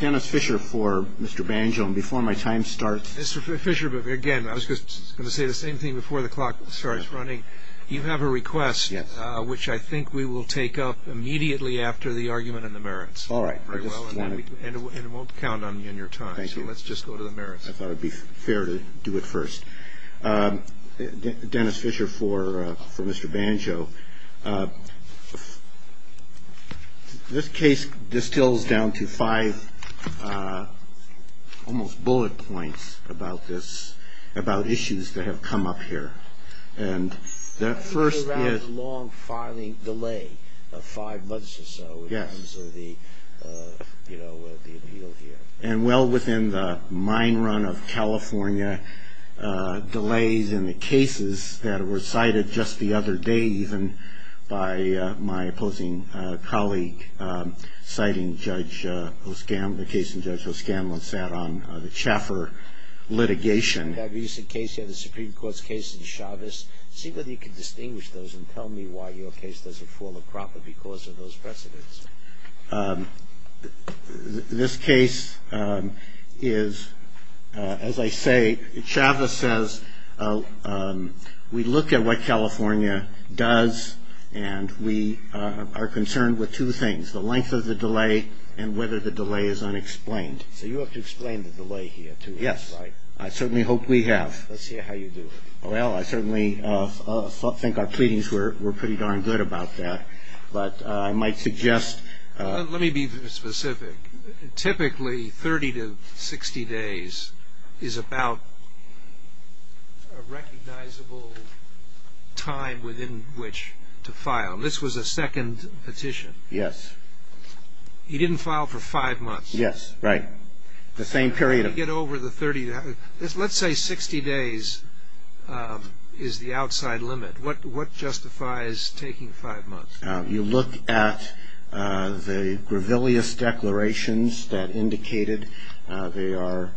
Dennis Fisher for Mr. Banjo, and before my time starts... Mr. Fisher, again, I was just going to say the same thing before the clock starts running. You have a request, which I think we will take up immediately after the argument and the merits. All right. And it won't count on you and your time. Thank you. So let's just go to the merits. I thought it would be fair to do it first. Dennis Fisher for Mr. Banjo. So this case distills down to five almost bullet points about issues that have come up here. And the first is... I think we're around the long filing delay of five months or so in terms of the, you know, the appeal here. And well within the mine run of California, delays in the cases that were cited just the other day, even by my opposing colleague citing Judge O'Scann, the case in which Judge O'Scann sat on the Chaffer litigation. That recent case, yeah, the Supreme Court's case in Chavez. See whether you can distinguish those and tell me why your case doesn't fall a proper because of those precedents. This case is, as I say, Chavez says we look at what California does and we are concerned with two things, the length of the delay and whether the delay is unexplained. So you have to explain the delay here too. Yes. I certainly hope we have. Let's hear how you do it. Well, I certainly think our pleadings were pretty darn good about that. But I might suggest... Let me be specific. Typically 30 to 60 days is about a recognizable time within which to file. This was a second petition. Yes. He didn't file for five months. Yes, right. The same period of... Let's say 60 days is the outside limit. What justifies taking five months? You look at the Grevilleus declarations that indicated they are,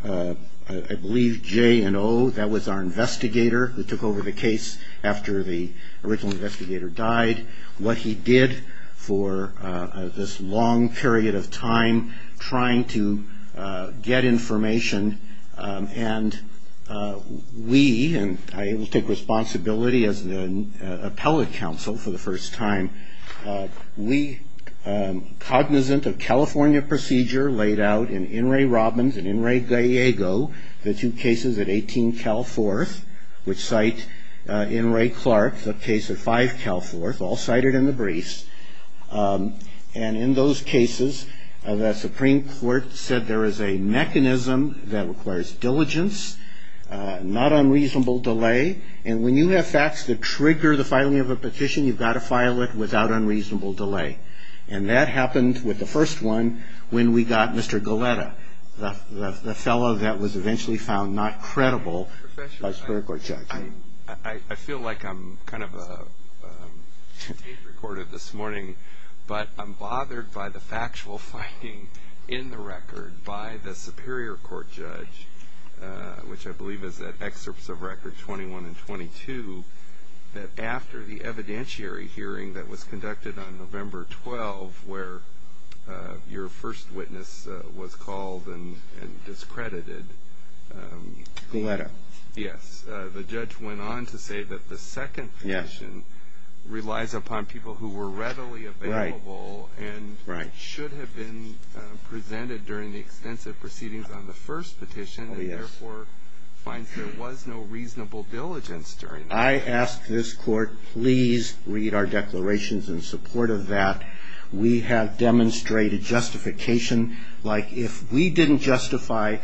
I believe, J and O. That was our investigator who took over the case after the original investigator died. What he did for this long period of time, trying to get information. And we, and I will take responsibility as the appellate counsel for the first time, we cognizant of California procedure laid out in In re Robbins and In re Gallego, the two cases at 18 Cal 4th, which cite In re Clark, the case at 5 Cal 4th, all cited in the briefs. And in those cases, the Supreme Court said there is a mechanism that requires diligence, not unreasonable delay, and when you have facts that trigger the filing of a petition, you've got to file it without unreasonable delay. And that happened with the first one when we got Mr. Galletta, the fellow that was eventually found not credible by the Supreme Court judge. I feel like I'm kind of tape recorded this morning, but I'm bothered by the factual finding in the record by the Superior Court judge, which I believe is at excerpts of records 21 and 22, that after the evidentiary hearing that was conducted on November 12th, where your first witness was called and discredited. Galletta. Yes. The judge went on to say that the second petition relies upon people who were readily available and should have been presented during the extensive proceedings on the first petition and therefore finds there was no reasonable diligence during that. I ask this Court, please read our declarations in support of that. We have demonstrated justification. Like, if we didn't justify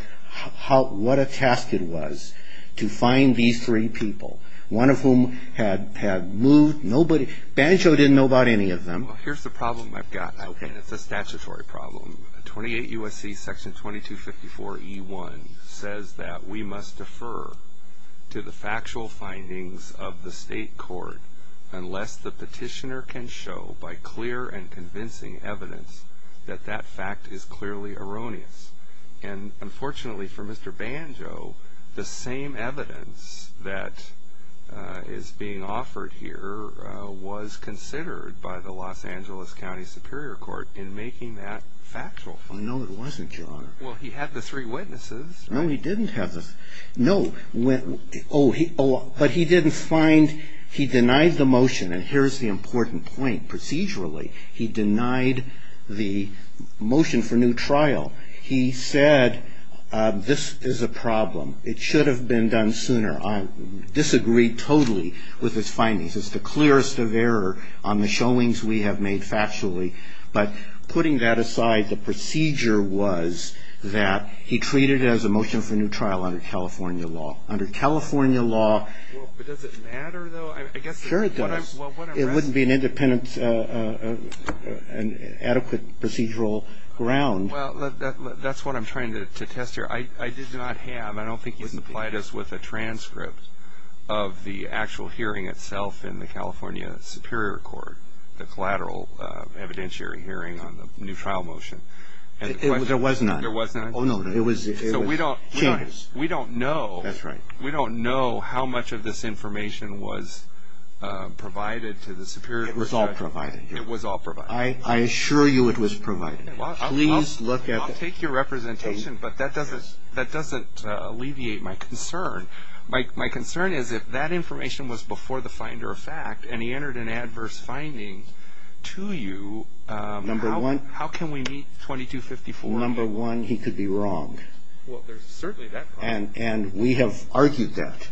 what a task it was to find these three people, one of whom had moved nobody. Banjo didn't know about any of them. Well, here's the problem I've got. Okay. It's a statutory problem. 28 U.S.C. Section 2254E1 says that we must defer to the factual findings of the state court unless the petitioner can show by clear and convincing evidence that that fact is clearly erroneous. And unfortunately for Mr. Banjo, the same evidence that is being offered here was considered by the Los Angeles County Superior Court in making that factual finding. No, it wasn't, Your Honor. Well, he had the three witnesses. No, he didn't have the three. No. Oh, but he didn't find he denied the motion. And here's the important point. Procedurally, he denied the motion for new trial. He said, this is a problem. It should have been done sooner. I disagree totally with his findings. It's the clearest of error on the showings we have made factually. But putting that aside, the procedure was that he treated it as a motion for new trial under California law. Under California law ---- Well, but does it matter, though? Sure it does. It wouldn't be an independent adequate procedural ground. Well, that's what I'm trying to test here. I did not have, I don't think he's implied us with a transcript of the actual hearing itself in the California Superior Court, the collateral evidentiary hearing on the new trial motion. There was none. There was none. Oh, no. So we don't know. That's right. We don't know how much of this information was provided to the Superior Court. It was all provided. It was all provided. I assure you it was provided. Please look at it. I'll take your representation, but that doesn't alleviate my concern. My concern is if that information was before the finder of fact and he entered an adverse finding to you, how can we meet 2254? Number one, he could be wrong. Well, there's certainly that problem. And we have argued that.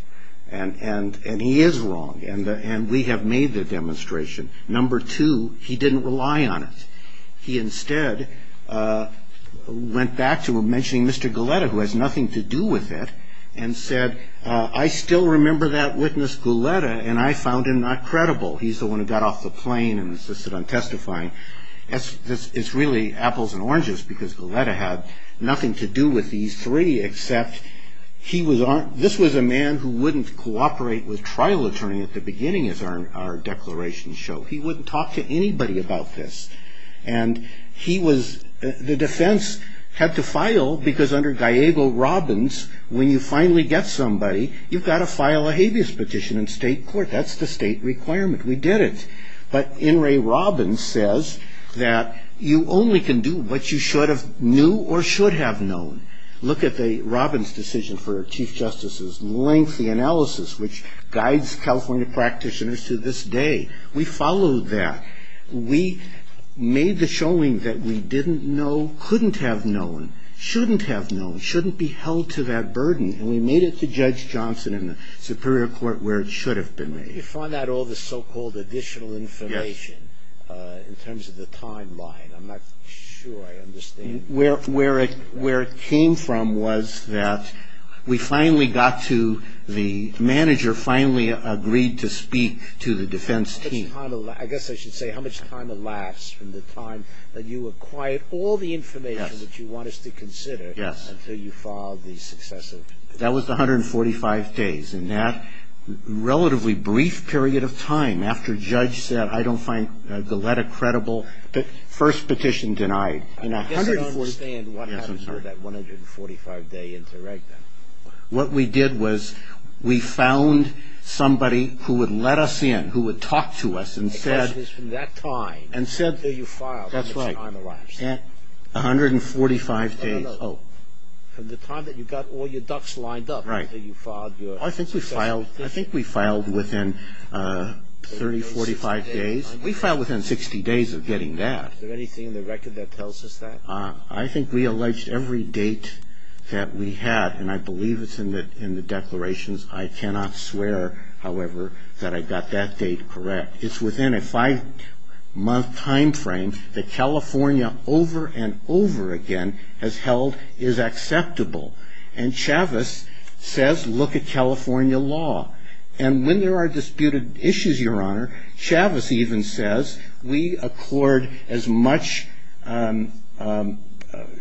And he is wrong. And we have made the demonstration. Number two, he didn't rely on it. He instead went back to mentioning Mr. Goleta, who has nothing to do with it, and said, I still remember that witness, Goleta, and I found him not credible. He's the one who got off the plane and insisted on testifying. It's really apples and oranges because Goleta had nothing to do with these three except this was a man who wouldn't cooperate with a trial attorney at the beginning, as our declarations show. He wouldn't talk to anybody about this. And he was the defense had to file because under Gallego-Robbins, when you finally get somebody, you've got to file a habeas petition in state court. That's the state requirement. We did it. But N. Ray Robbins says that you only can do what you should have knew or should have known. Look at the Robbins decision for Chief Justice's lengthy analysis, which guides California practitioners to this day. We followed that. We made the showing that we didn't know, couldn't have known, shouldn't have known, shouldn't be held to that burden, and we made it to Judge Johnson in the superior court where it should have been made. Why did you find out all this so-called additional information in terms of the timeline? I'm not sure I understand. Where it came from was that we finally got to the manager finally agreed to speak to the defense team. I guess I should say how much time elapsed from the time that you acquired all the information that you want us to consider until you filed the successive. That was 145 days. In that relatively brief period of time after Judge said, I don't find the letter credible, the first petition denied. I guess I don't understand what happens with that 145-day interregnum. What we did was we found somebody who would let us in, who would talk to us and said. The question is from that time until you filed, how much time elapsed? That's right. 145 days. No, no, no. From the time that you got all your ducks lined up until you filed your successive. I think we filed within 30, 45 days. We filed within 60 days of getting that. Is there anything in the record that tells us that? I think we alleged every date that we had, and I believe it's in the declarations. I cannot swear, however, that I got that date correct. It's within a five-month time frame that California over and over again has held is acceptable. And Chavez says look at California law. And when there are disputed issues, Your Honor, Chavez even says we accord as much.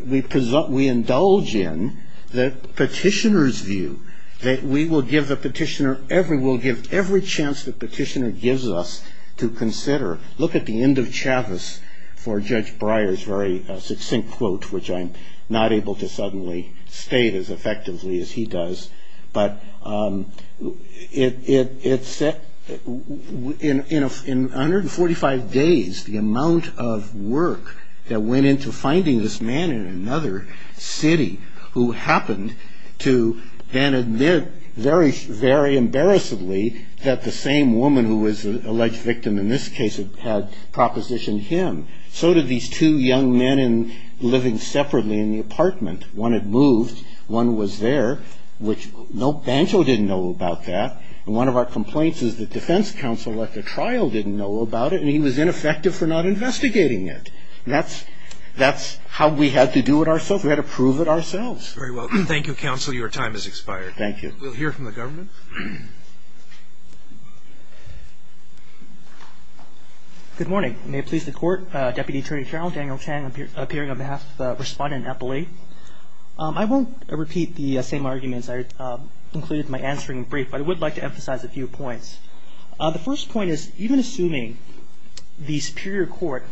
We indulge in the petitioner's view that we will give the petitioner every chance the petitioner gives us to consider. Look at the end of Chavez for Judge Breyer's very succinct quote, which I'm not able to suddenly state as effectively as he does. But in 145 days, the amount of work that went into finding this man in another city who happened to then admit very embarrassedly that the same woman who was the alleged victim in this case had propositioned him, so did these two young men living separately in the apartment. One had moved. One was there, which no banjo didn't know about that. And one of our complaints is that defense counsel at the trial didn't know about it, and he was ineffective for not investigating it. That's how we had to do it ourselves. We had to prove it ourselves. Very well. Thank you, counsel. Your time has expired. Thank you. We'll hear from the government. Good morning. May it please the Court. Deputy Attorney General Daniel Chang, appearing on behalf of Respondent Eppley. I won't repeat the same arguments I included in my answering brief, but I would like to emphasize a few points. The first point is, even assuming the superior court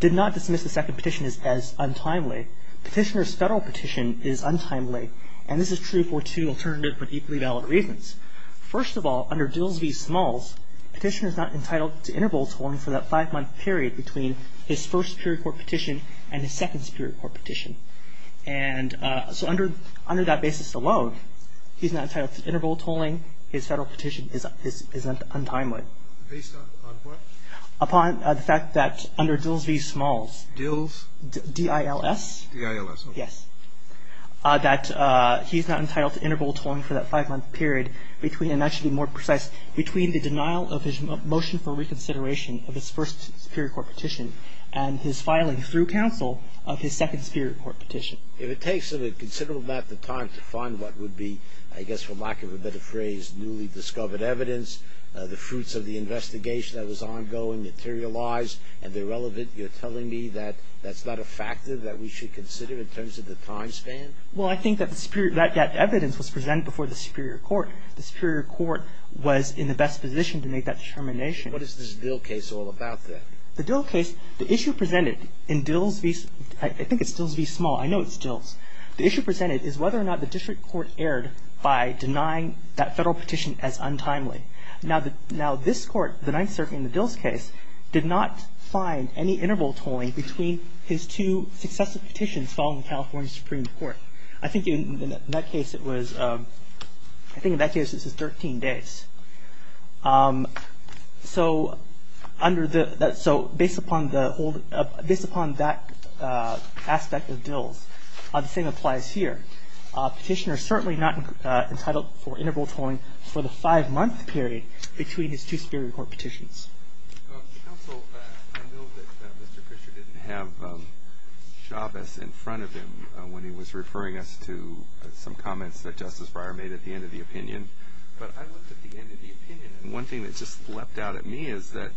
did not dismiss the second petition as untimely, petitioner's federal petition is untimely, and this is true for two alternative but equally valid reasons. First of all, under Dilsby-Smalls, petitioner's not entitled to interval tolling for that five-month period between his first superior court petition and his second superior court petition. And so under that basis alone, he's not entitled to interval tolling. His federal petition is untimely. Based on what? Upon the fact that under Dilsby-Smalls. Dils? D-I-L-S. D-I-L-S. Yes. That he's not entitled to interval tolling for that five-month period between, and I should be more precise, between the denial of his motion for reconsideration of his first superior court petition and his filing through counsel of his second superior court petition. If it takes a considerable amount of time to find what would be, I guess for lack of a better phrase, newly discovered evidence, the fruits of the investigation that was ongoing, materialized, and they're relevant, you're telling me that that's not a factor that we should consider in terms of the time span? Well, I think that evidence was presented before the superior court. The superior court was in the best position to make that determination. What is this Dill case all about, then? The Dill case, the issue presented in Dillsby – I think it's Dillsby-Smalls. I know it's Dills. The issue presented is whether or not the district court erred by denying that Federal petition as untimely. Now, this Court, the Ninth Circuit in the Dills case, did not find any interval tolling between his two successive petitions following the California Supreme Court. I think in that case it was – I think in that case it was 13 days. So under the – so based upon the old – based upon that aspect of Dills, the same applies here. A petitioner is certainly not entitled for interval tolling for the five-month period between his two superior court petitions. Counsel, I know that Mr. Fisher didn't have Chavez in front of him when he was referring us to some comments that Justice Breyer made at the end of the opinion. But I looked at the end of the opinion, and one thing that just leapt out at me is that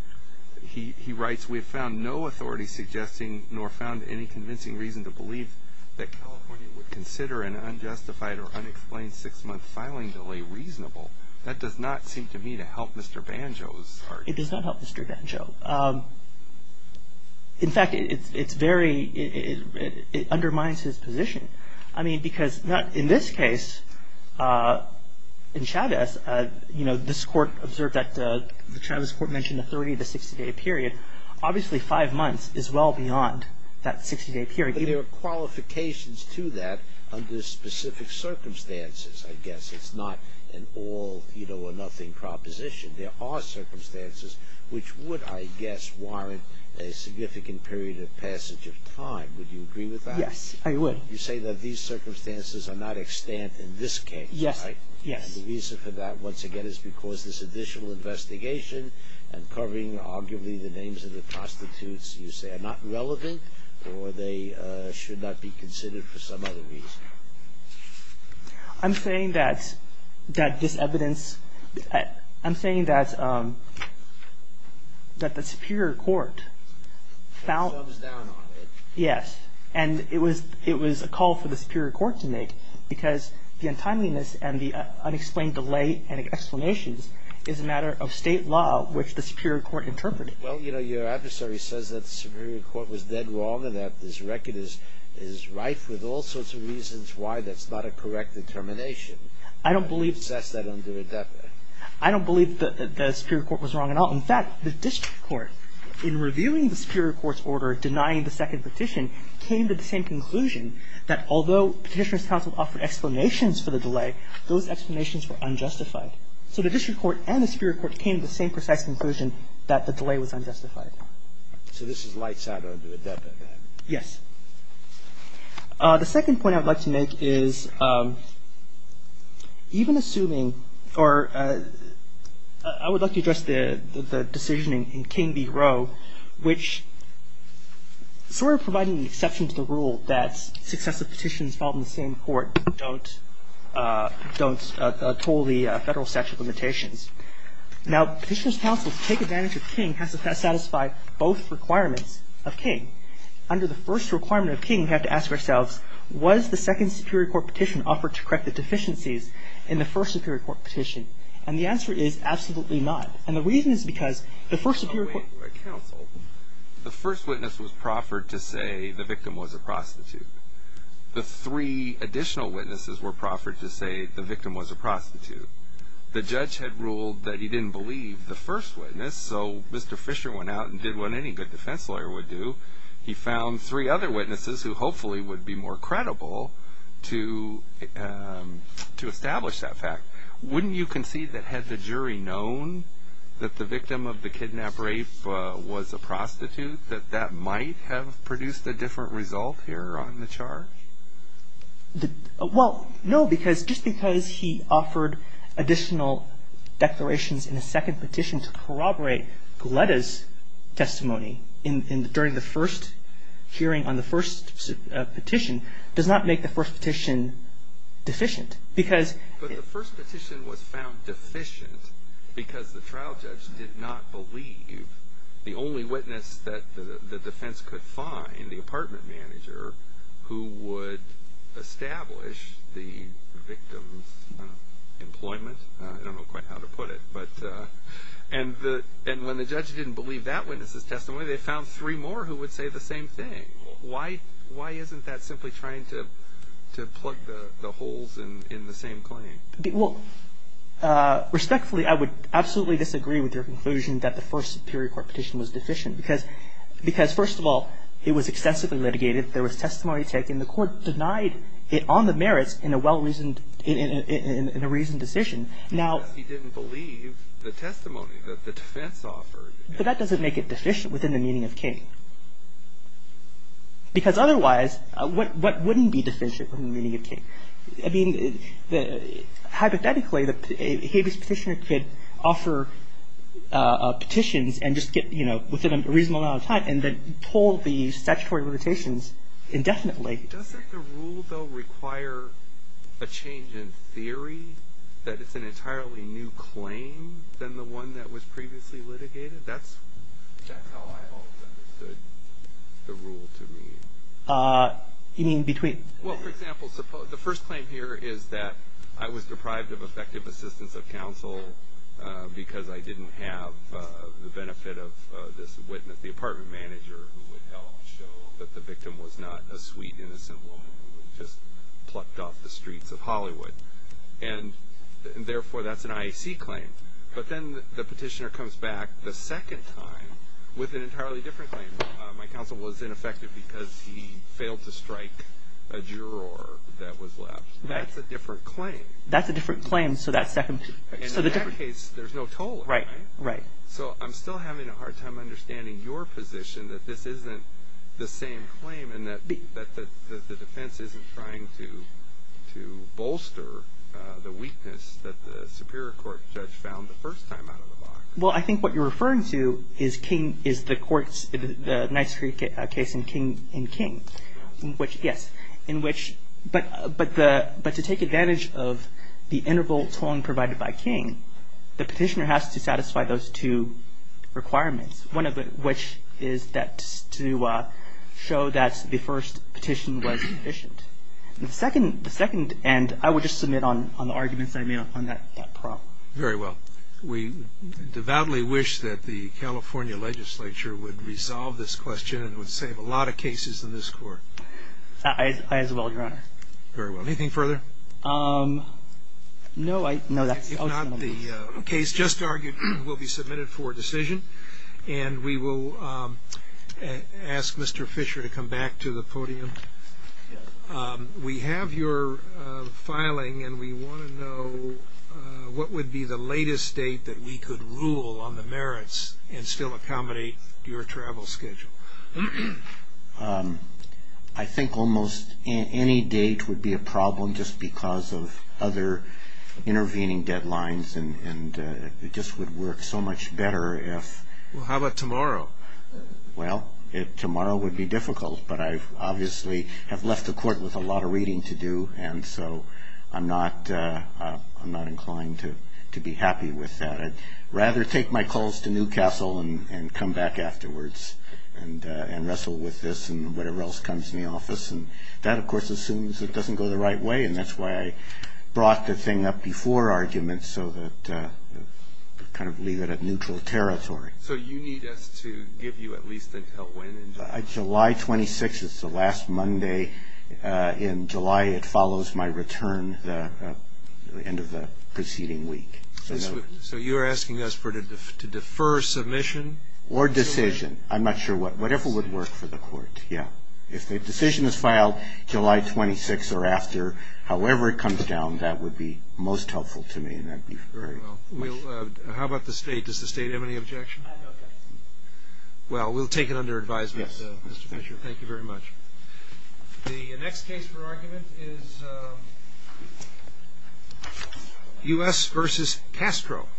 he writes, we have found no authority suggesting nor found any convincing reason to believe that California would consider an unjustified or unexplained six-month filing delay reasonable. That does not seem to me to help Mr. Banjo's argument. It does not help Mr. Banjo. In fact, it's very – it undermines his position. I mean, because in this case, in Chavez, you know, this Court observed that – the Chavez Court mentioned a 30- to 60-day period. Obviously, five months is well beyond that 60-day period. But there are qualifications to that under specific circumstances, I guess. It's not an all, you know, or nothing proposition. There are circumstances which would, I guess, warrant a significant period of passage of time. Would you agree with that? Yes, I would. You say that these circumstances are not extant in this case, right? Yes, yes. And the reason for that, once again, is because this additional investigation and covering arguably the names of the prostitutes, you say, are not relevant or they should not be considered for some other reason. I'm saying that this evidence – I'm saying that the superior court found – Thumbs down on it. Yes. And it was a call for the superior court to make because the untimeliness and the unexplained delay and explanations is a matter of State law, which the superior court interpreted. Well, you know, your adversary says that the superior court was dead wrong is rife with all sorts of reasons why that's not a correct determination. I don't believe – To assess that under ADEPA. I don't believe that the superior court was wrong at all. In fact, the district court, in reviewing the superior court's order, denying the second petition, came to the same conclusion that although Petitioner's Council offered explanations for the delay, those explanations were unjustified. So the district court and the superior court came to the same precise conclusion that the delay was unjustified. So this is lights out under ADEPA. Yes. The second point I would like to make is even assuming – or I would like to address the decision in King v. Roe, which sort of providing the exception to the rule that successive petitions filed in the same court don't toll the federal statute of limitations. Now, Petitioner's Council's take advantage of King has to satisfy both requirements of King. Under the first requirement of King, we have to ask ourselves, was the second superior court petition offered to correct the deficiencies in the first superior court petition? And the answer is absolutely not. And the reason is because the first superior court – Under Roe v. Roe, the first witness was proffered to say the victim was a prostitute. The three additional witnesses were proffered to say the victim was a prostitute. The judge had ruled that he didn't believe the first witness, so Mr. Fisher went out and did what any good defense lawyer would do. He found three other witnesses who hopefully would be more credible to establish that fact. Wouldn't you concede that had the jury known that the victim of the kidnap-rape was a prostitute, that that might have produced a different result here on the charge? Well, no, because just because he offered additional declarations in a second petition to corroborate Gletta's testimony during the first hearing on the first petition does not make the first petition deficient. But the first petition was found deficient because the trial judge did not believe the only witness that the defense could find, the apartment manager, who would establish the victim's employment – I don't know quite how to put it – and when the judge didn't believe that witness's testimony, they found three more who would say the same thing. Why isn't that simply trying to plug the holes in the same claim? Well, respectfully, I would absolutely disagree with your conclusion that the first superior court petition was deficient because, first of all, it was extensively litigated. There was testimony taken. The court denied it on the merits in a well-reasoned decision. Because he didn't believe the testimony that the defense offered. But that doesn't make it deficient within the meaning of King. Because otherwise, what wouldn't be deficient within the meaning of King? I mean, hypothetically, a habeas petitioner could offer petitions and just get within a reasonable amount of time and then pull the statutory limitations indefinitely. Doesn't the rule, though, require a change in theory that it's an entirely new claim than the one that was previously litigated? That's how I always understood the rule to be. You mean between? Well, for example, the first claim here is that I was deprived of effective assistance of counsel because I didn't have the benefit of this witness, the apartment manager, who would help show that the victim was not a sweet, innocent woman who was just plucked off the streets of Hollywood. And therefore, that's an IAC claim. But then the petitioner comes back the second time with an entirely different claim. My counsel was ineffective because he failed to strike a juror that was left. That's a different claim. That's a different claim. In that case, there's no toll, right? Right. So I'm still having a hard time understanding your position that this isn't the same claim and that the defense isn't trying to bolster the weakness that the superior court judge found the first time out of the box. Well, I think what you're referring to is the court's, the Knight's Creek case in King. Yes. But to take advantage of the interval tolling provided by King, the petitioner has to satisfy those two requirements, one of which is to show that the first petition was sufficient. The second, and I would just submit on the arguments I made on that problem. Very well. We devoutly wish that the California legislature would resolve this question and would save a lot of cases in this court. I as well, Your Honor. Very well. Anything further? No. If not, the case just argued will be submitted for decision, and we will ask Mr. Fisher to come back to the podium. We have your filing, and we want to know what would be the latest date that we could rule on the merits and still accommodate your travel schedule. I think almost any date would be a problem just because of other intervening deadlines, and it just would work so much better if... Well, how about tomorrow? Well, tomorrow would be difficult, but I obviously have left the court with a lot of reading to do, and so I'm not inclined to be happy with that. I'd rather take my calls to Newcastle and come back afterwards and wrestle with this and whatever else comes in the office, and that, of course, assumes it doesn't go the right way, and that's why I brought the thing up before arguments so that kind of leave it at neutral territory. So you need us to give you at least until when in July? July 26th. It's the last Monday in July. It follows my return the end of the preceding week. So you're asking us to defer submission? Or decision. I'm not sure what. Whatever would work for the court, yeah. If the decision is filed July 26th or after, however it comes down, that would be most helpful to me, and that would be great. Very well. How about the state? Does the state have any objection? I have no objection. Well, we'll take it under advisement, Mr. Fisher. Thank you very much. The next case for argument is U.S. v. Castro.